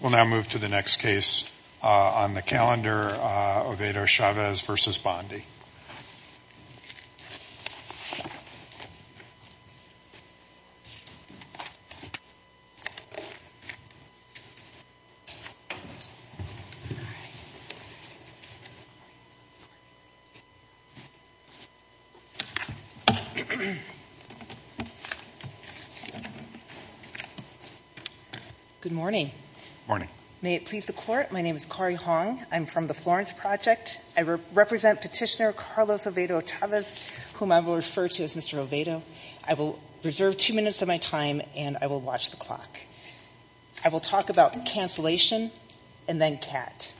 We'll now move to the next case on the calendar, Ovedo-Chavez v. Bondi. Ovedo-Chavez v. Bondi Good morning. May it please the Court, my name is Kari Hong. I'm from the Florence Project. I represent Petitioner Carlos Ovedo-Chavez, whom I will refer to as Mr. Ovedo. I will reserve two minutes of my time and I will watch the clock. I will talk about cancellation and then CAT.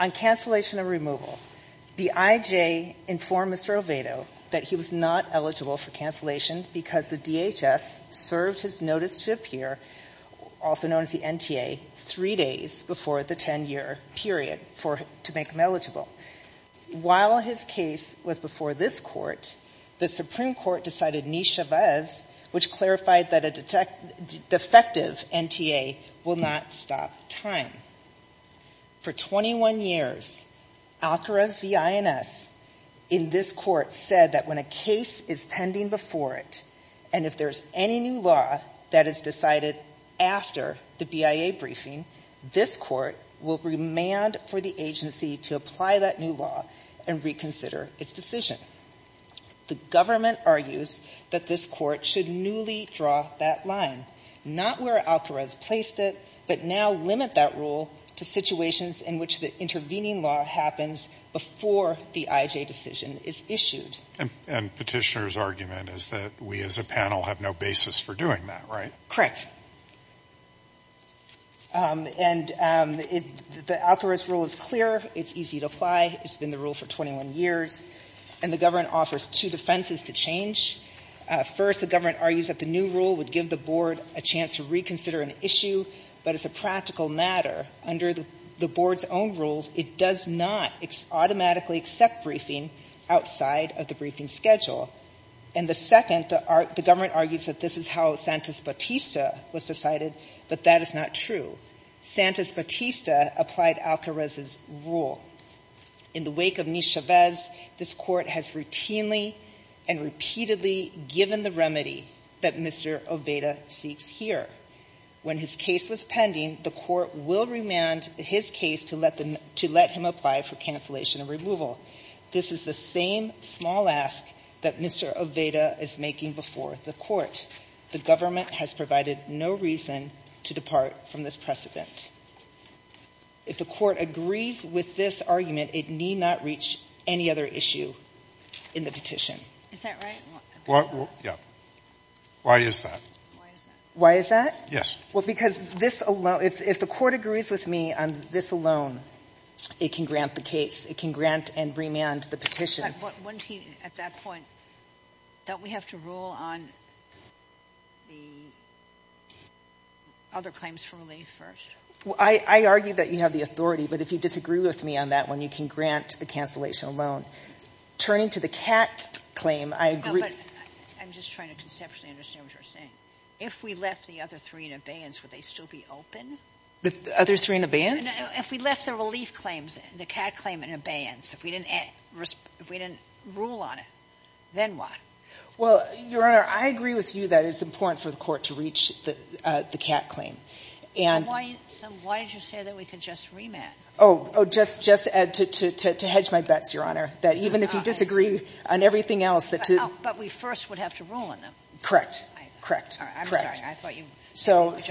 On cancellation of removal, the IJ informed Mr. Ovedo that he was not eligible for cancellation because the DHS served his notice to appear, also known as the NTA, three days before the 10-year period to make him eligible. While his case was before this Court, the Supreme Court decided niche Chavez, which clarified that a defective NTA will not stop time. For 21 years, Alcaraz v. INS in this Court said that when a case is pending before it is issued, and if there is any new law that is decided after the BIA briefing, this Court will remand for the agency to apply that new law and reconsider its decision. The government argues that this Court should newly draw that line, not where Alcaraz placed it, but now limit that rule to situations in which the intervening law happens before the IJ decision is issued. And Petitioner's argument is that we as a panel have no basis for doing that, right? Correct. And the Alcaraz rule is clear. It's easy to apply. It's been the rule for 21 years. And the government offers two defenses to change. First, the government argues that the new rule would give the Board a chance to reconsider an issue, but as a practical matter, under the Board's own rules, it does not automatically accept briefing outside of the briefing schedule. And the second, the government argues that this is how Santis-Batista was decided, but that is not true. Santis-Batista applied Alcaraz's rule. In the wake of Nis-Chavez, this Court has routinely and repeatedly given the remedy that Mr. Oveda seeks here. When his case was pending, the Court will remand his case to let him apply for cancellation of removal. This is the same small ask that Mr. Oveda is making before the Court. The government has provided no reason to depart from this precedent. If the Court agrees with this argument, it need not reach any other issue in the petition. Is that right? Yeah. Why is that? Why is that? Because if the Court agrees with me on this alone, it can grant the case. It can grant and remand the petition. But wouldn't he, at that point, don't we have to rule on the other claims for relief first? I argue that you have the authority, but if you disagree with me on that one, you can grant the cancellation alone. Turning to the CAC claim, I agree. I'm just trying to conceptually understand what you're saying. If we left the other three in abeyance, would they still be open? Other three in abeyance? If we left the relief claims, the CAC claim in abeyance, if we didn't rule on it, then what? Well, Your Honor, I agree with you that it's important for the Court to reach the CAC claim. And why did you say that we could just remand? Oh, just to hedge my bets, Your Honor, that even if you disagree on everything But we first would have to rule on them. Correct. Correct. I'm sorry. I thought you meant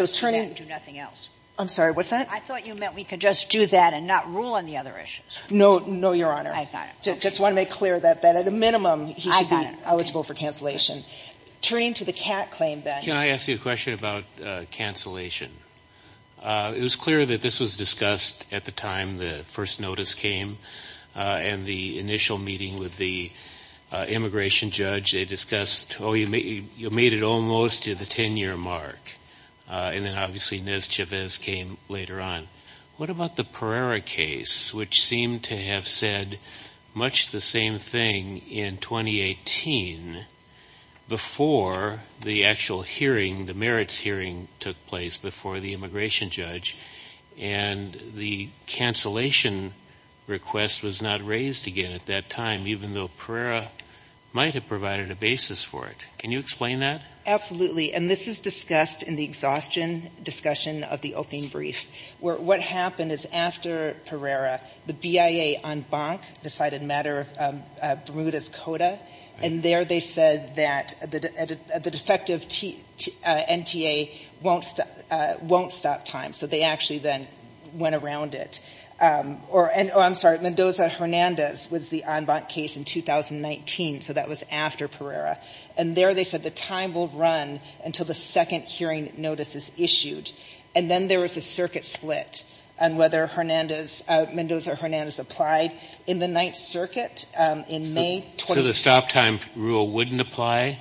we could just do that and do nothing else. I'm sorry, what's that? I thought you meant we could just do that and not rule on the other issues. No, no, Your Honor. I got it. Just want to make clear that at a minimum, he should be eligible for cancellation. Turning to the CAC claim, then. Can I ask you a question about cancellation? It was clear that this was discussed at the time the first notice came and the initial meeting with the immigration judge. They discussed, oh, you made it almost to the 10-year mark. And then, obviously, Nez Chavez came later on. What about the Pereira case, which seemed to have said much the same thing in 2018 before the actual hearing, the merits hearing, took place before the immigration judge? And the cancellation request was not raised again at that time, even though Pereira might have provided a basis for it. Can you explain that? Absolutely. And this is discussed in the exhaustion discussion of the opening brief, where what happened is after Pereira, the BIA en banc decided a matter of Bermuda's coda, and there they said that the defective NTA won't stop time. They actually then went around it. I'm sorry. Mendoza-Hernandez was the en banc case in 2019. So that was after Pereira. And there they said the time will run until the second hearing notice is issued. And then there was a circuit split on whether Mendoza-Hernandez applied in the Ninth Circuit in May 2018. So the stop time rule wouldn't apply?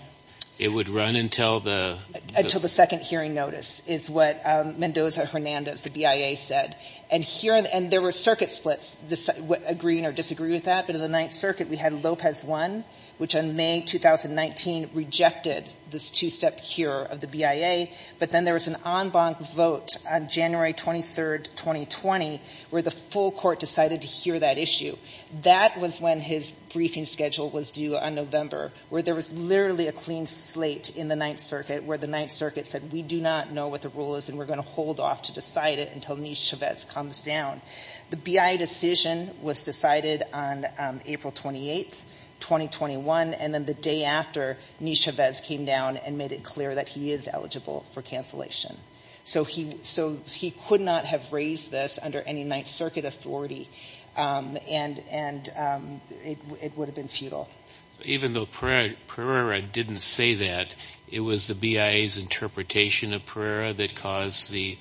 It would run until the... Until the second hearing notice, is what Mendoza-Hernandez, the BIA, said. And there were circuit splits, agreeing or disagreeing with that. But in the Ninth Circuit, we had Lopez won, which in May 2019 rejected this two-step cure of the BIA. But then there was an en banc vote on January 23, 2020, where the full court decided to hear that issue. That was when his briefing schedule was due on November, where there was literally a clean slate in the Ninth Circuit, where the Ninth Circuit said, we do not know what the rule is and we're going to hold off to decide it until Nishevez comes down. The BIA decision was decided on April 28, 2021. And then the day after, Nishevez came down and made it clear that he is eligible for cancellation. So he could not have raised this under any Ninth Circuit authority, and it would have been futile. Even though Pereira didn't say that, it was the BIA's interpretation of Pereira that caused the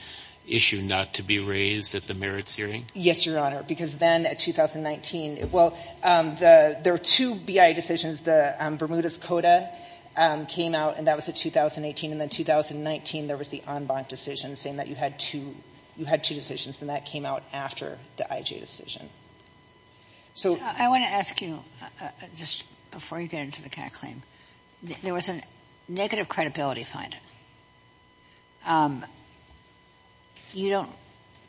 issue not to be raised at the merits hearing? Yes, Your Honor. Because then, in 2019, well, there were two BIA decisions. The Bermudez-Cota came out, and that was in 2018. And then in 2019, there was the en banc decision, saying that you had two decisions, and that came out after the IJ decision. So I want to ask you, just before you get into the CAC claim, there was a negative credibility finding. You don't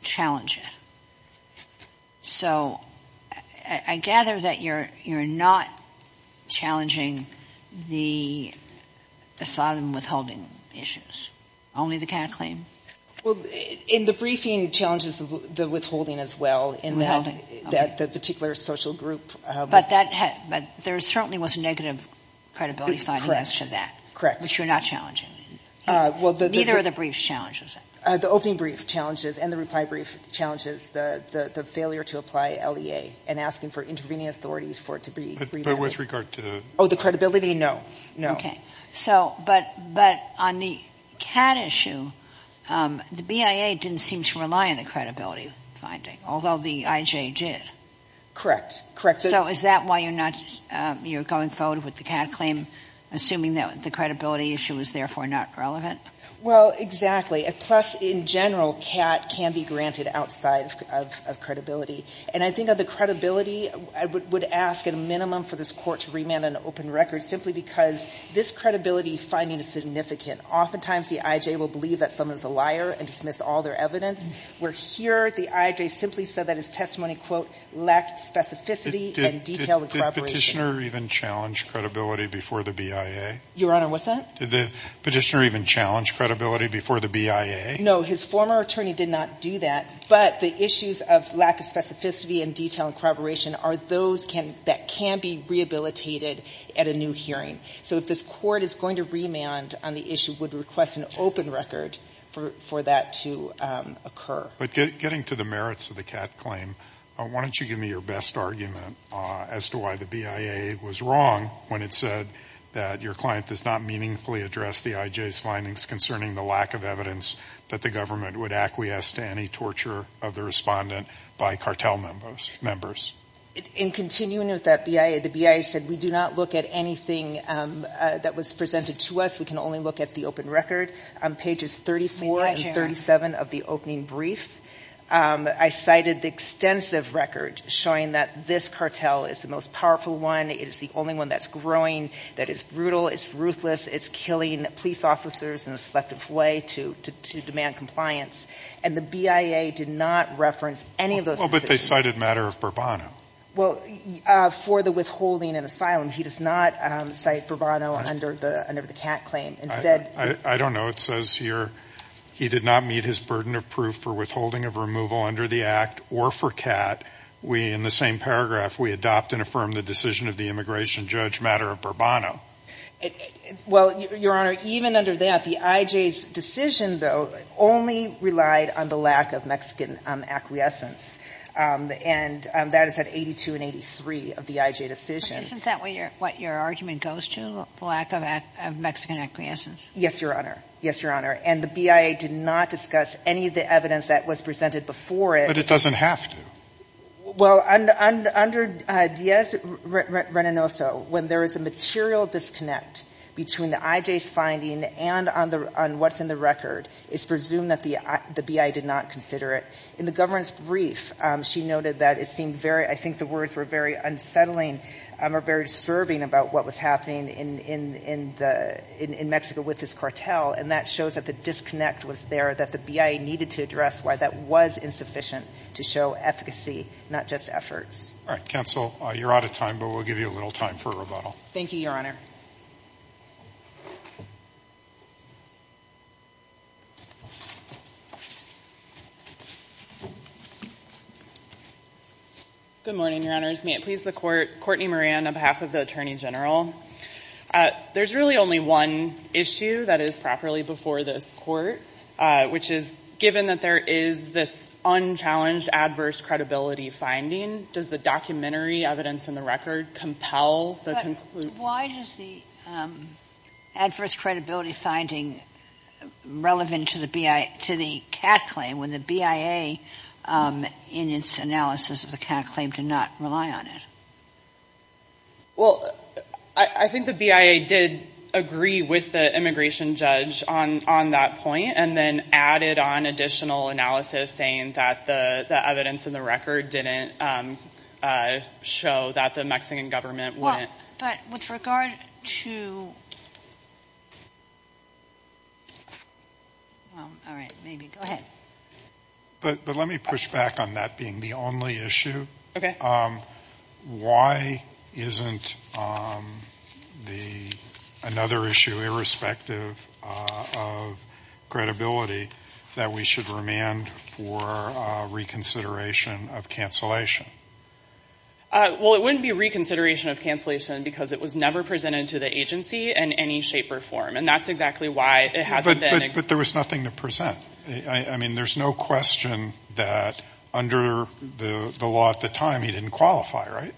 challenge it. So I gather that you're not challenging the asylum withholding issues, only the CAC claim? Well, in the briefing, it challenges the withholding as well. Withholding. The particular social group. But there certainly was a negative credibility finding as to that. Correct. Which you're not challenging. Neither of the briefs challenges it. The opening brief challenges, and the reply brief challenges the failure to apply LEA and asking for intervening authorities for it to be remanded. But with regard to the – Oh, the credibility? No. No. Okay. So, but on the CAT issue, the BIA didn't seem to rely on the credibility finding, although the IJ did. Correct. So is that why you're not – you're going forward with the CAT claim, assuming that the credibility issue is therefore not relevant? Well, exactly. Plus, in general, CAT can be granted outside of credibility. And I think of the credibility, I would ask at a minimum for this court to remand an open record simply because this credibility finding is significant. Oftentimes, the IJ will believe that someone's a liar and dismiss all their evidence, where here, the IJ simply said that his testimony, quote, lacked specificity and detailed corroboration. Did the petitioner even challenge credibility before the BIA? Your Honor, what's that? Did the petitioner even challenge credibility before the BIA? No. His former attorney did not do that. But the issues of lack of specificity and detail and corroboration are those that can be rehabilitated at a new hearing. So if this court is going to remand on the issue, would request an open record for that to occur. But getting to the merits of the CAT claim, why don't you give me your best argument as to why the BIA was wrong when it said that your client does not meaningfully address the IJ's findings concerning the lack of evidence that the government would acquiesce to any torture of the respondent by cartel members? In continuing with that BIA, the BIA said we do not look at anything that was presented to us. We can only look at the open record on pages 34 and 37 of the opening brief. I cited the extensive record showing that this cartel is the most powerful one. It is the only one that's growing, that is brutal, it's ruthless, it's killing police officers in a selective way to demand compliance. And the BIA did not reference any of those. Well, but they cited the matter of Bourbon. Well, for the withholding and asylum, he does not cite Bourbon under the CAT claim. I don't know. It says here he did not meet his burden of proof for withholding of removal under the act or for CAT. We, in the same paragraph, we adopt and affirm the decision of the immigration judge matter of Bourbon. Well, Your Honor, even under that, the IJ's decision, though, only relied on the lack of Mexican acquiescence. And that is at 82 and 83 of the IJ decision. Isn't that what your argument goes to, the lack of Mexican acquiescence? Yes, Your Honor. Yes, Your Honor. And the BIA did not discuss any of the evidence that was presented before it. But it doesn't have to. Well, under Diaz-Renanoso, when there is a material disconnect between the IJ's finding and on what's in the record, it's presumed that the BIA did not consider it. In the government's brief, she noted that it seemed very, I think the words were very unsettling or very disturbing about what was happening in Mexico with this cartel. And that shows that the disconnect was there, that the BIA needed to address why that was insufficient to show efficacy, not just efforts. All right. Counsel, you're out of time, but we'll give you a little time for rebuttal. Thank you, Your Honor. Good morning, Your Honors. May it please the Court. Courtney Moran on behalf of the Attorney General. There's really only one issue that is properly before this Court, which is, given that there is this unchallenged adverse credibility finding, does the documentary evidence in the record compel the conclusion? But why does the adverse credibility finding relevant to the BIA, to the CAT claim, in its analysis of the CAT claim to not rely on it? Well, I think the BIA did agree with the immigration judge on that point, and then added on additional analysis saying that the evidence in the record didn't show that the Mexican government wouldn't. But with regard to... Well, all right. Maybe. Go ahead. But let me push back on that being the only issue. Why isn't another issue, irrespective of credibility, that we should remand for reconsideration of cancellation? Well, it wouldn't be reconsideration of cancellation because it was never presented to the agency in any shape or form. And that's exactly why it hasn't been... But there was nothing to present. I mean, there's no question that under the law at the time, he didn't qualify, right?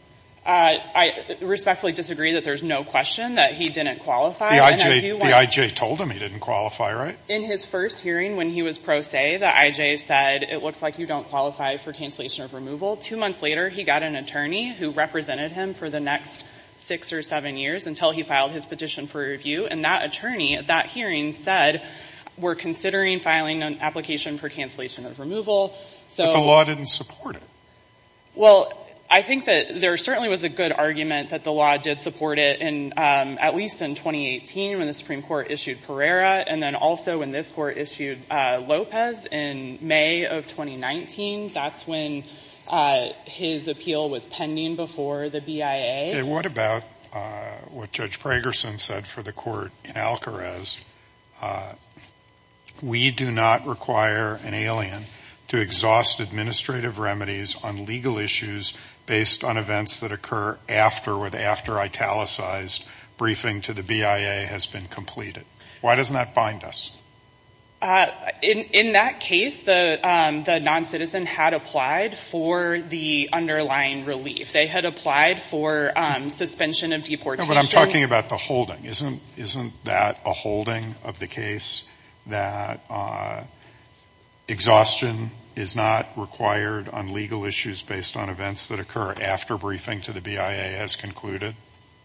I respectfully disagree that there's no question that he didn't qualify. The IJ told him he didn't qualify, right? In his first hearing, when he was pro se, the IJ said, it looks like you don't qualify for cancellation of removal. Two months later, he got an attorney who represented him for the next six or seven years until he filed his petition for review. And that attorney at that hearing said, we're considering filing an application for cancellation of removal. So the law didn't support it. Well, I think that there certainly was a good argument that the law did support it. And at least in 2018, when the Supreme Court issued Pereira, and then also when this court issued Lopez in May of 2019, that's when his appeal was pending before the BIA. What about what Judge Pragerson said for the court in Alcarez? We do not require an alien to exhaust administrative remedies on legal issues based on events that occur after or after italicized briefing to the BIA has been completed. Why doesn't that bind us? In that case, the non-citizen had applied for the underlying relief. They had applied for suspension of deportation. But I'm talking about the holding. Isn't that a holding of the case that exhaustion is not required on legal issues based on events that occur after briefing to the BIA has concluded?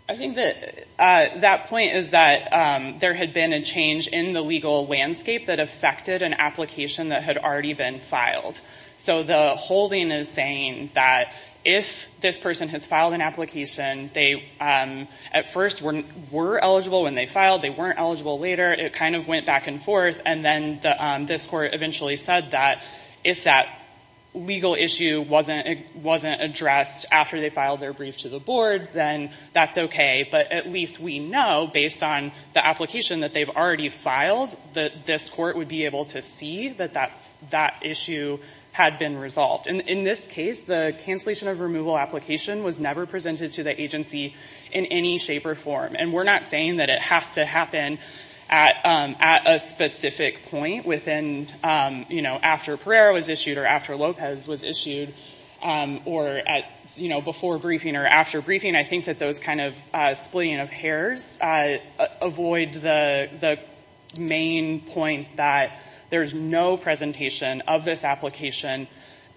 I think that point is that there had been a change in the legal landscape that affected an application that had already been filed. So the holding is saying that if this person has filed an application, they at first were eligible when they filed. They weren't eligible later. It kind of went back and forth. And then this court eventually said that if that legal issue wasn't addressed after they filed their brief to the board, then that's okay. But at least we know, based on the application that they've already filed, that this court would be able to see that that issue had been resolved. And in this case, the cancellation of removal application was never presented to the agency in any shape or form. And we're not saying that it has to happen at a specific point after Pereira was issued or after Lopez was issued or before briefing or after briefing. I think that those kind of splitting of hairs avoid the main point that there's no presentation of this application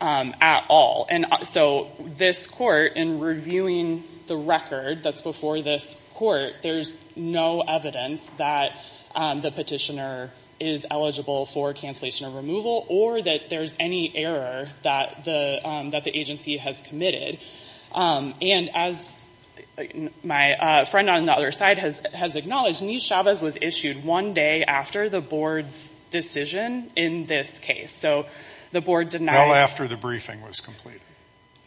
at all. And so this court, in reviewing the record that's before this court, there's no evidence that the petitioner is eligible for cancellation of removal or that there's any error that the agency has committed. And as my friend on the other side has acknowledged, Niz Chavez was issued one day after the board's decision in this case. So the board did not— Well, after the briefing was completed.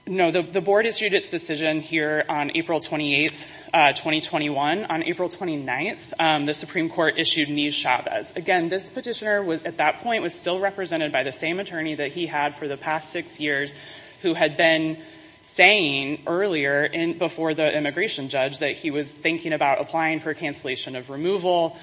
No, the board issued its decision here on April 28, 2021. On April 29, the Supreme Court issued Niz Chavez. Again, this petitioner at that point was still represented by the same attorney that he had for the past six years who had been saying earlier before the immigration judge that he was thinking about applying for cancellation of removal.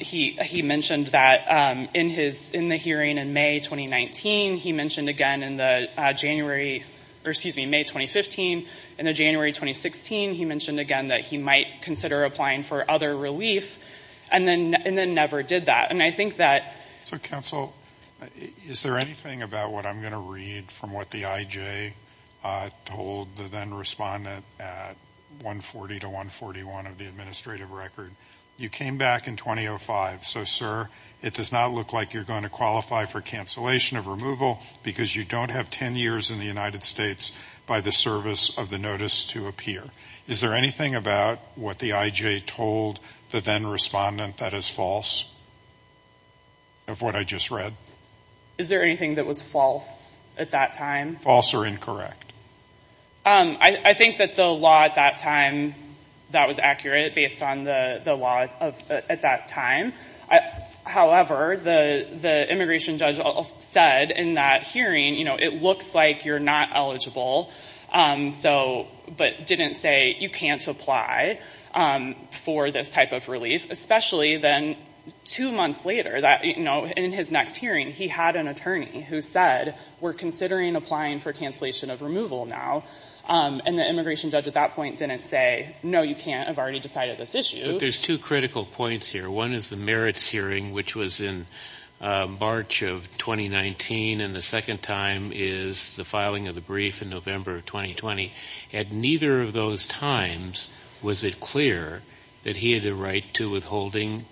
He mentioned that in the hearing in May 2019, he mentioned again in the January—or excuse me, May 2015. In the January 2016, he mentioned again that he might consider applying for other relief and then never did that. And I think that— So, counsel, is there anything about what I'm going to read from what the IJ told the then-respondent at 140 to 141 of the administrative record? You came back in 2005. So, sir, it does not look like you're going to qualify for cancellation of removal because you don't have 10 years in the United States by the service of the notice to appear. Is there anything about what the IJ told the then-respondent that is false? Of what I just read? Is there anything that was false at that time? False or incorrect? I think that the law at that time, that was accurate based on the law at that time. However, the immigration judge said in that hearing, you know, it looks like you're not eligible, but didn't say you can't apply for this type of relief. Especially then two months later that, you know, in his next hearing, he had an attorney who said, we're considering applying for cancellation of removal now. And the immigration judge at that point didn't say, no, you can't. I've already decided this issue. There's two critical points here. One is the merits hearing, which was in March of 2019. And the second time is the filing of the brief in November of 2020. At neither of those times, was it clear that he had the right to withholding,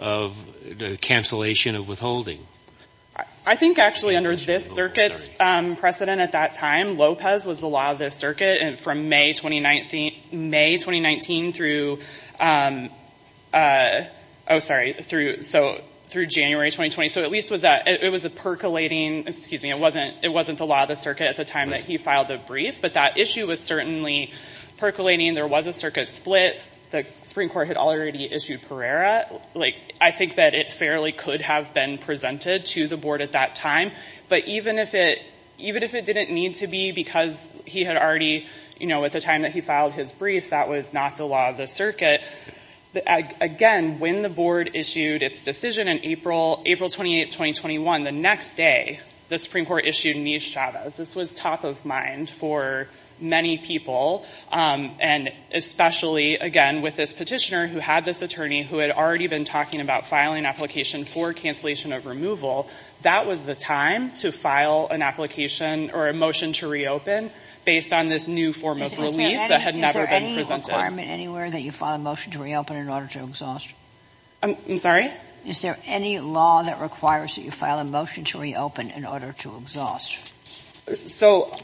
of the cancellation of withholding? I think actually under this circuit's precedent at that time, Lopez was the law of the circuit from May 2019 through, oh, sorry, through January 2020. So at least it was a percolating, excuse me, it wasn't the law of the circuit at the time that he filed the brief. But that issue was certainly percolating. There was a circuit split. The Supreme Court had already issued Pereira. Like, I think that it fairly could have been presented to the board at that time. But even if it didn't need to be because he had already, you know, at the time that he filed his brief, that was not the law of the circuit. Again, when the board issued its decision in April, April 28, 2021, the next day, the Supreme Court issued Mish Chavez. This was top of mind for many people. And especially, again, with this petitioner who had this attorney who had already been talking about filing application for cancellation of removal, that was the time to file an application or a motion to reopen based on this new form of relief that had never been presented. Is there any requirement anywhere that you file a motion to reopen in order to exhaust? I'm sorry? Is there any law that requires that you file a motion to reopen in order to exhaust? So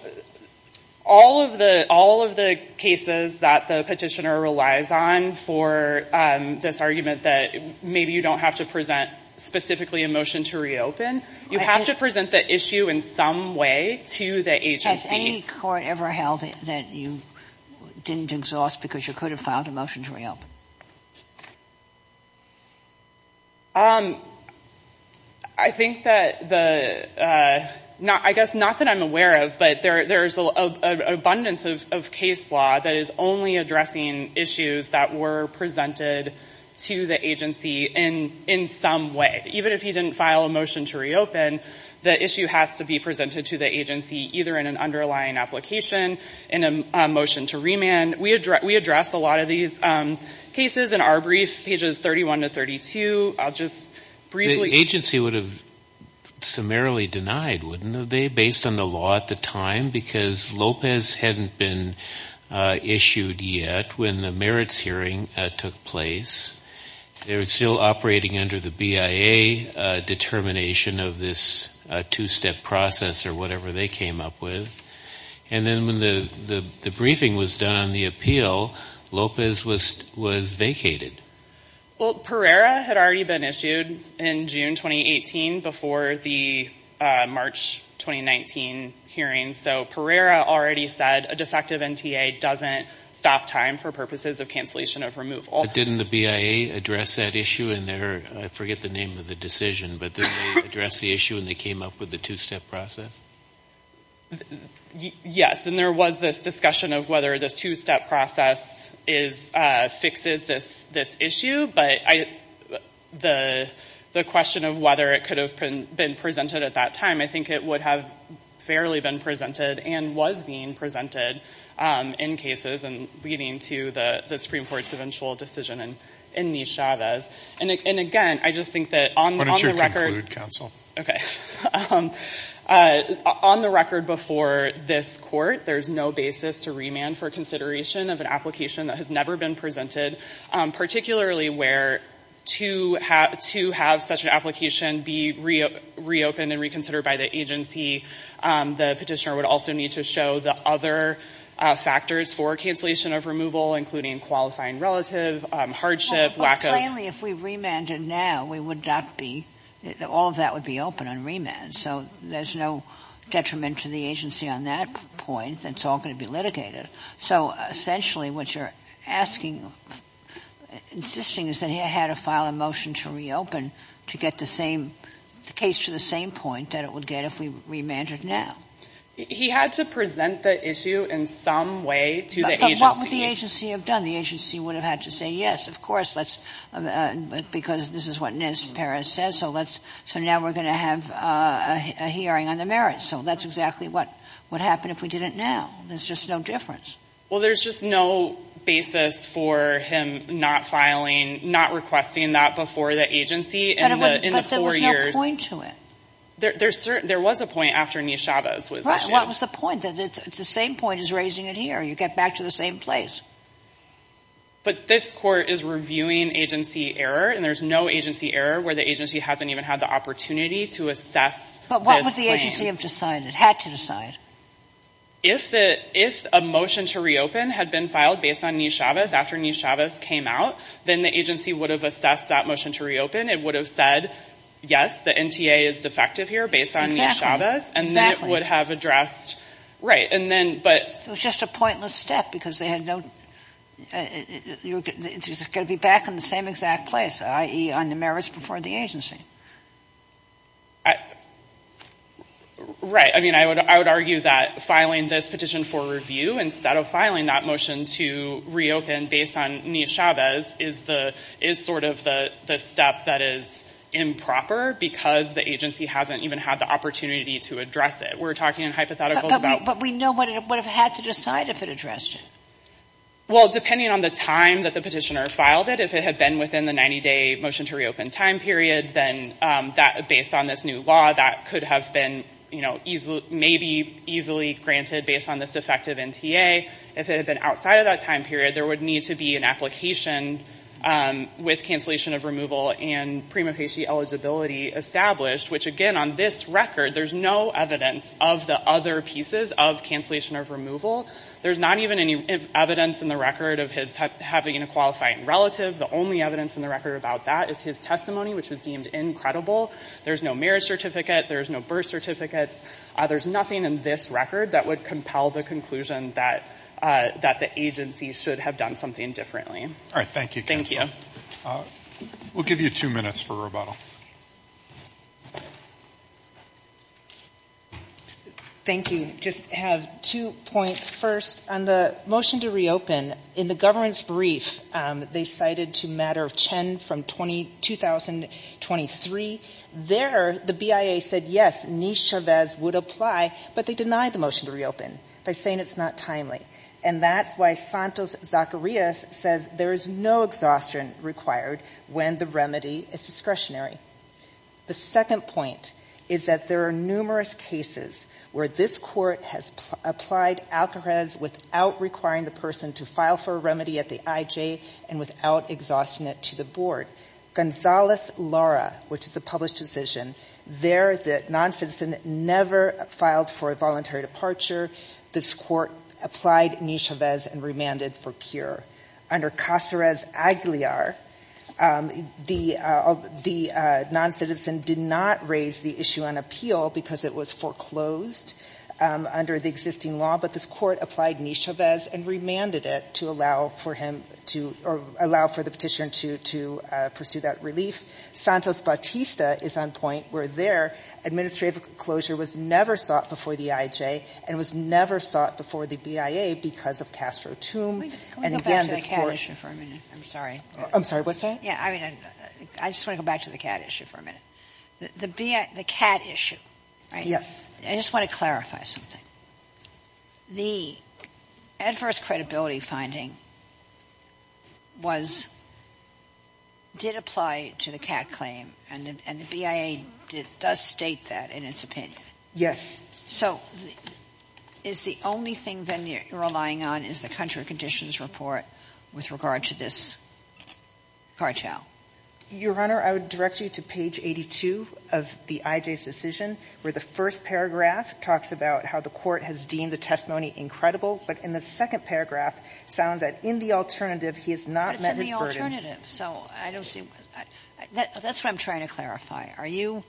all of the cases that the petitioner relies on for this argument that maybe you don't have to present specifically a motion to reopen, you have to present the issue in some way to the agency. Has any court ever held that you didn't exhaust because you could have filed a motion to reopen? I think that the, I guess not that I'm aware of, but there's an abundance of case law that is only addressing issues that were presented to the agency in some way. Even if you didn't file a motion to reopen, the issue has to be presented to the agency either in an underlying application, in a motion to remand. We address a lot of these cases in our brief, pages 31 to 32. I'll just briefly... The agency would have summarily denied, wouldn't they, based on the law at the time because Lopez hadn't been issued yet when the merits hearing took place. They were still operating under the BIA determination of this two-step process or whatever they came up with. And then when the briefing was done on the appeal, Lopez was vacated. Well, Pereira had already been issued in June 2018 before the March 2019 hearing. So Pereira already said a defective NTA doesn't stop time for purposes of cancellation of removal. Didn't the BIA address that issue in their, I forget the name of the decision, but they addressed the issue and they came up with the two-step process? Yes. And there was this discussion of whether this two-step process fixes this issue. But the question of whether it could have been presented at that time, I think it would have fairly been presented and was being presented in cases and leading to the Supreme Court's eventual decision in Nichavez. And again, I just think that on the record... Why don't you conclude, counsel? Okay. On the record before this court, there's no basis to remand for consideration of an application that has never been presented, particularly where to have such an application be reopened and reconsidered by the agency, the petitioner would also need to show the other factors for cancellation of removal, including qualifying relative, hardship, lack of... All of that would be open on remand. So there's no detriment to the agency on that point. It's all going to be litigated. So essentially what you're asking, insisting is that he had to file a motion to reopen to get the same case to the same point that it would get if we remanded now. He had to present the issue in some way to the agency. But what would the agency have done? The agency would have had to say, yes, of course, let's... Because this is what Nez Perez says. So let's... So now we're going to have a hearing on the merits. So that's exactly what would happen if we did it now. There's just no difference. Well, there's just no basis for him not filing, not requesting that before the agency in the four years. But there was no point to it. There was a point after Neshabez was issued. What was the point? That it's the same point as raising it here. You get back to the same place. But this court is reviewing agency error. And there's no agency error where the agency hasn't even had the opportunity to assess... But what would the agency have decided, had to decide? If a motion to reopen had been filed based on Neshabez after Neshabez came out, then the agency would have assessed that motion to reopen. It would have said, yes, the NTA is defective here based on Neshabez. And then it would have addressed... And then, but... It was just a pointless step because they had no... It's going to be back in the same exact place, i.e. on the merits before the agency. Right. I mean, I would argue that filing this petition for review instead of filing that motion to reopen based on Neshabez is sort of the step that is improper because the agency hasn't even had the opportunity to address it. We're talking in hypotheticals about... But we know what it would have had to decide if it addressed it. Well, depending on the time that the petitioner filed it, if it had been within the 90-day motion to reopen time period, then based on this new law, that could have been, maybe easily granted based on this defective NTA. If it had been outside of that time period, there would need to be an application with cancellation of removal and prima facie eligibility established. Which again, on this record, there's no evidence of the other pieces of cancellation of removal. There's not even any evidence in the record of his having a qualifying relative. The only evidence in the record about that is his testimony, which is deemed incredible. There's no merit certificate. There's no birth certificates. There's nothing in this record that would compel the conclusion that the agency should have done something differently. All right. Thank you. We'll give you two minutes for rebuttal. Thank you. I just have two points. First, on the motion to reopen, in the government's brief, they cited to matter of Chen from 2023. There, the BIA said, yes, Niche Chavez would apply, but they denied the motion to reopen by saying it's not timely. And that's why Santos-Zacarias says there is no exhaustion required when the remedy is discretionary. The second point is that there are numerous cases where this court has applied Alcarez without requiring the person to file for a remedy at the IJ and without exhausting it to the board. Gonzalez-Lara, which is a published decision, there the non-citizen never filed for a voluntary departure. This court applied Niche Chavez and remanded for cure. Under Caceres-Aguilar, the non-citizen did not raise the issue on appeal because it was foreclosed under the existing law. But this court applied Niche Chavez and remanded it to allow for him to, or allow for the petition to pursue that relief. Santos-Bautista is on point where their administrative closure was never sought before the IJ and was never sought before the BIA because of Castro-Tum. And again, this court ---- Sotomayor, I'm sorry. I'm sorry. What's that? Yeah. I mean, I just want to go back to the CAT issue for a minute. The CAT issue, right? Yes. I just want to clarify something. The adverse credibility finding was did apply to the CAT claim, and the BIA does state that in its opinion. Yes. So is the only thing then you're relying on is the country conditions report with regard to this cartel? Your Honor, I would direct you to page 82 of the IJ's decision, where the first paragraph talks about how the court has deemed the testimony incredible, but in the second paragraph sounds that in the alternative he has not met his burden. But it's in the alternative, so I don't see why. That's what I'm trying to clarify. Are you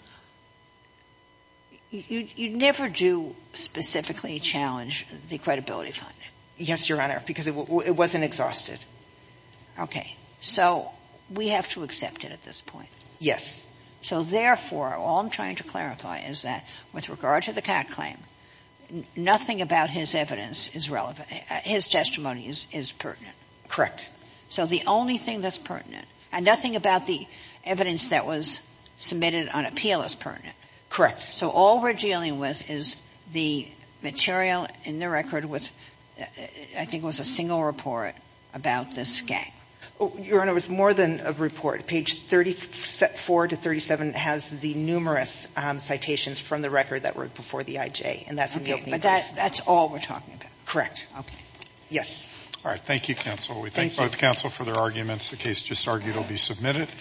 ---- you never do specifically challenge the credibility finding? Yes, Your Honor, because it wasn't exhausted. Okay. So we have to accept it at this point. Yes. So therefore, all I'm trying to clarify is that with regard to the CAT claim, nothing about his evidence is relevant. His testimony is pertinent. Correct. So the only thing that's pertinent, and nothing about the evidence that was submitted on appeal is pertinent. So all we're dealing with is the material in the record with, I think it was a single report about this gang. Your Honor, it was more than a report. Page 34 to 37 has the numerous citations from the record that were before the IJ, and that's in the opening brief. But that's all we're talking about. Correct. Okay. Yes. All right. Thank you, counsel. We thank both counsel for their arguments. The case just argued will be submitted.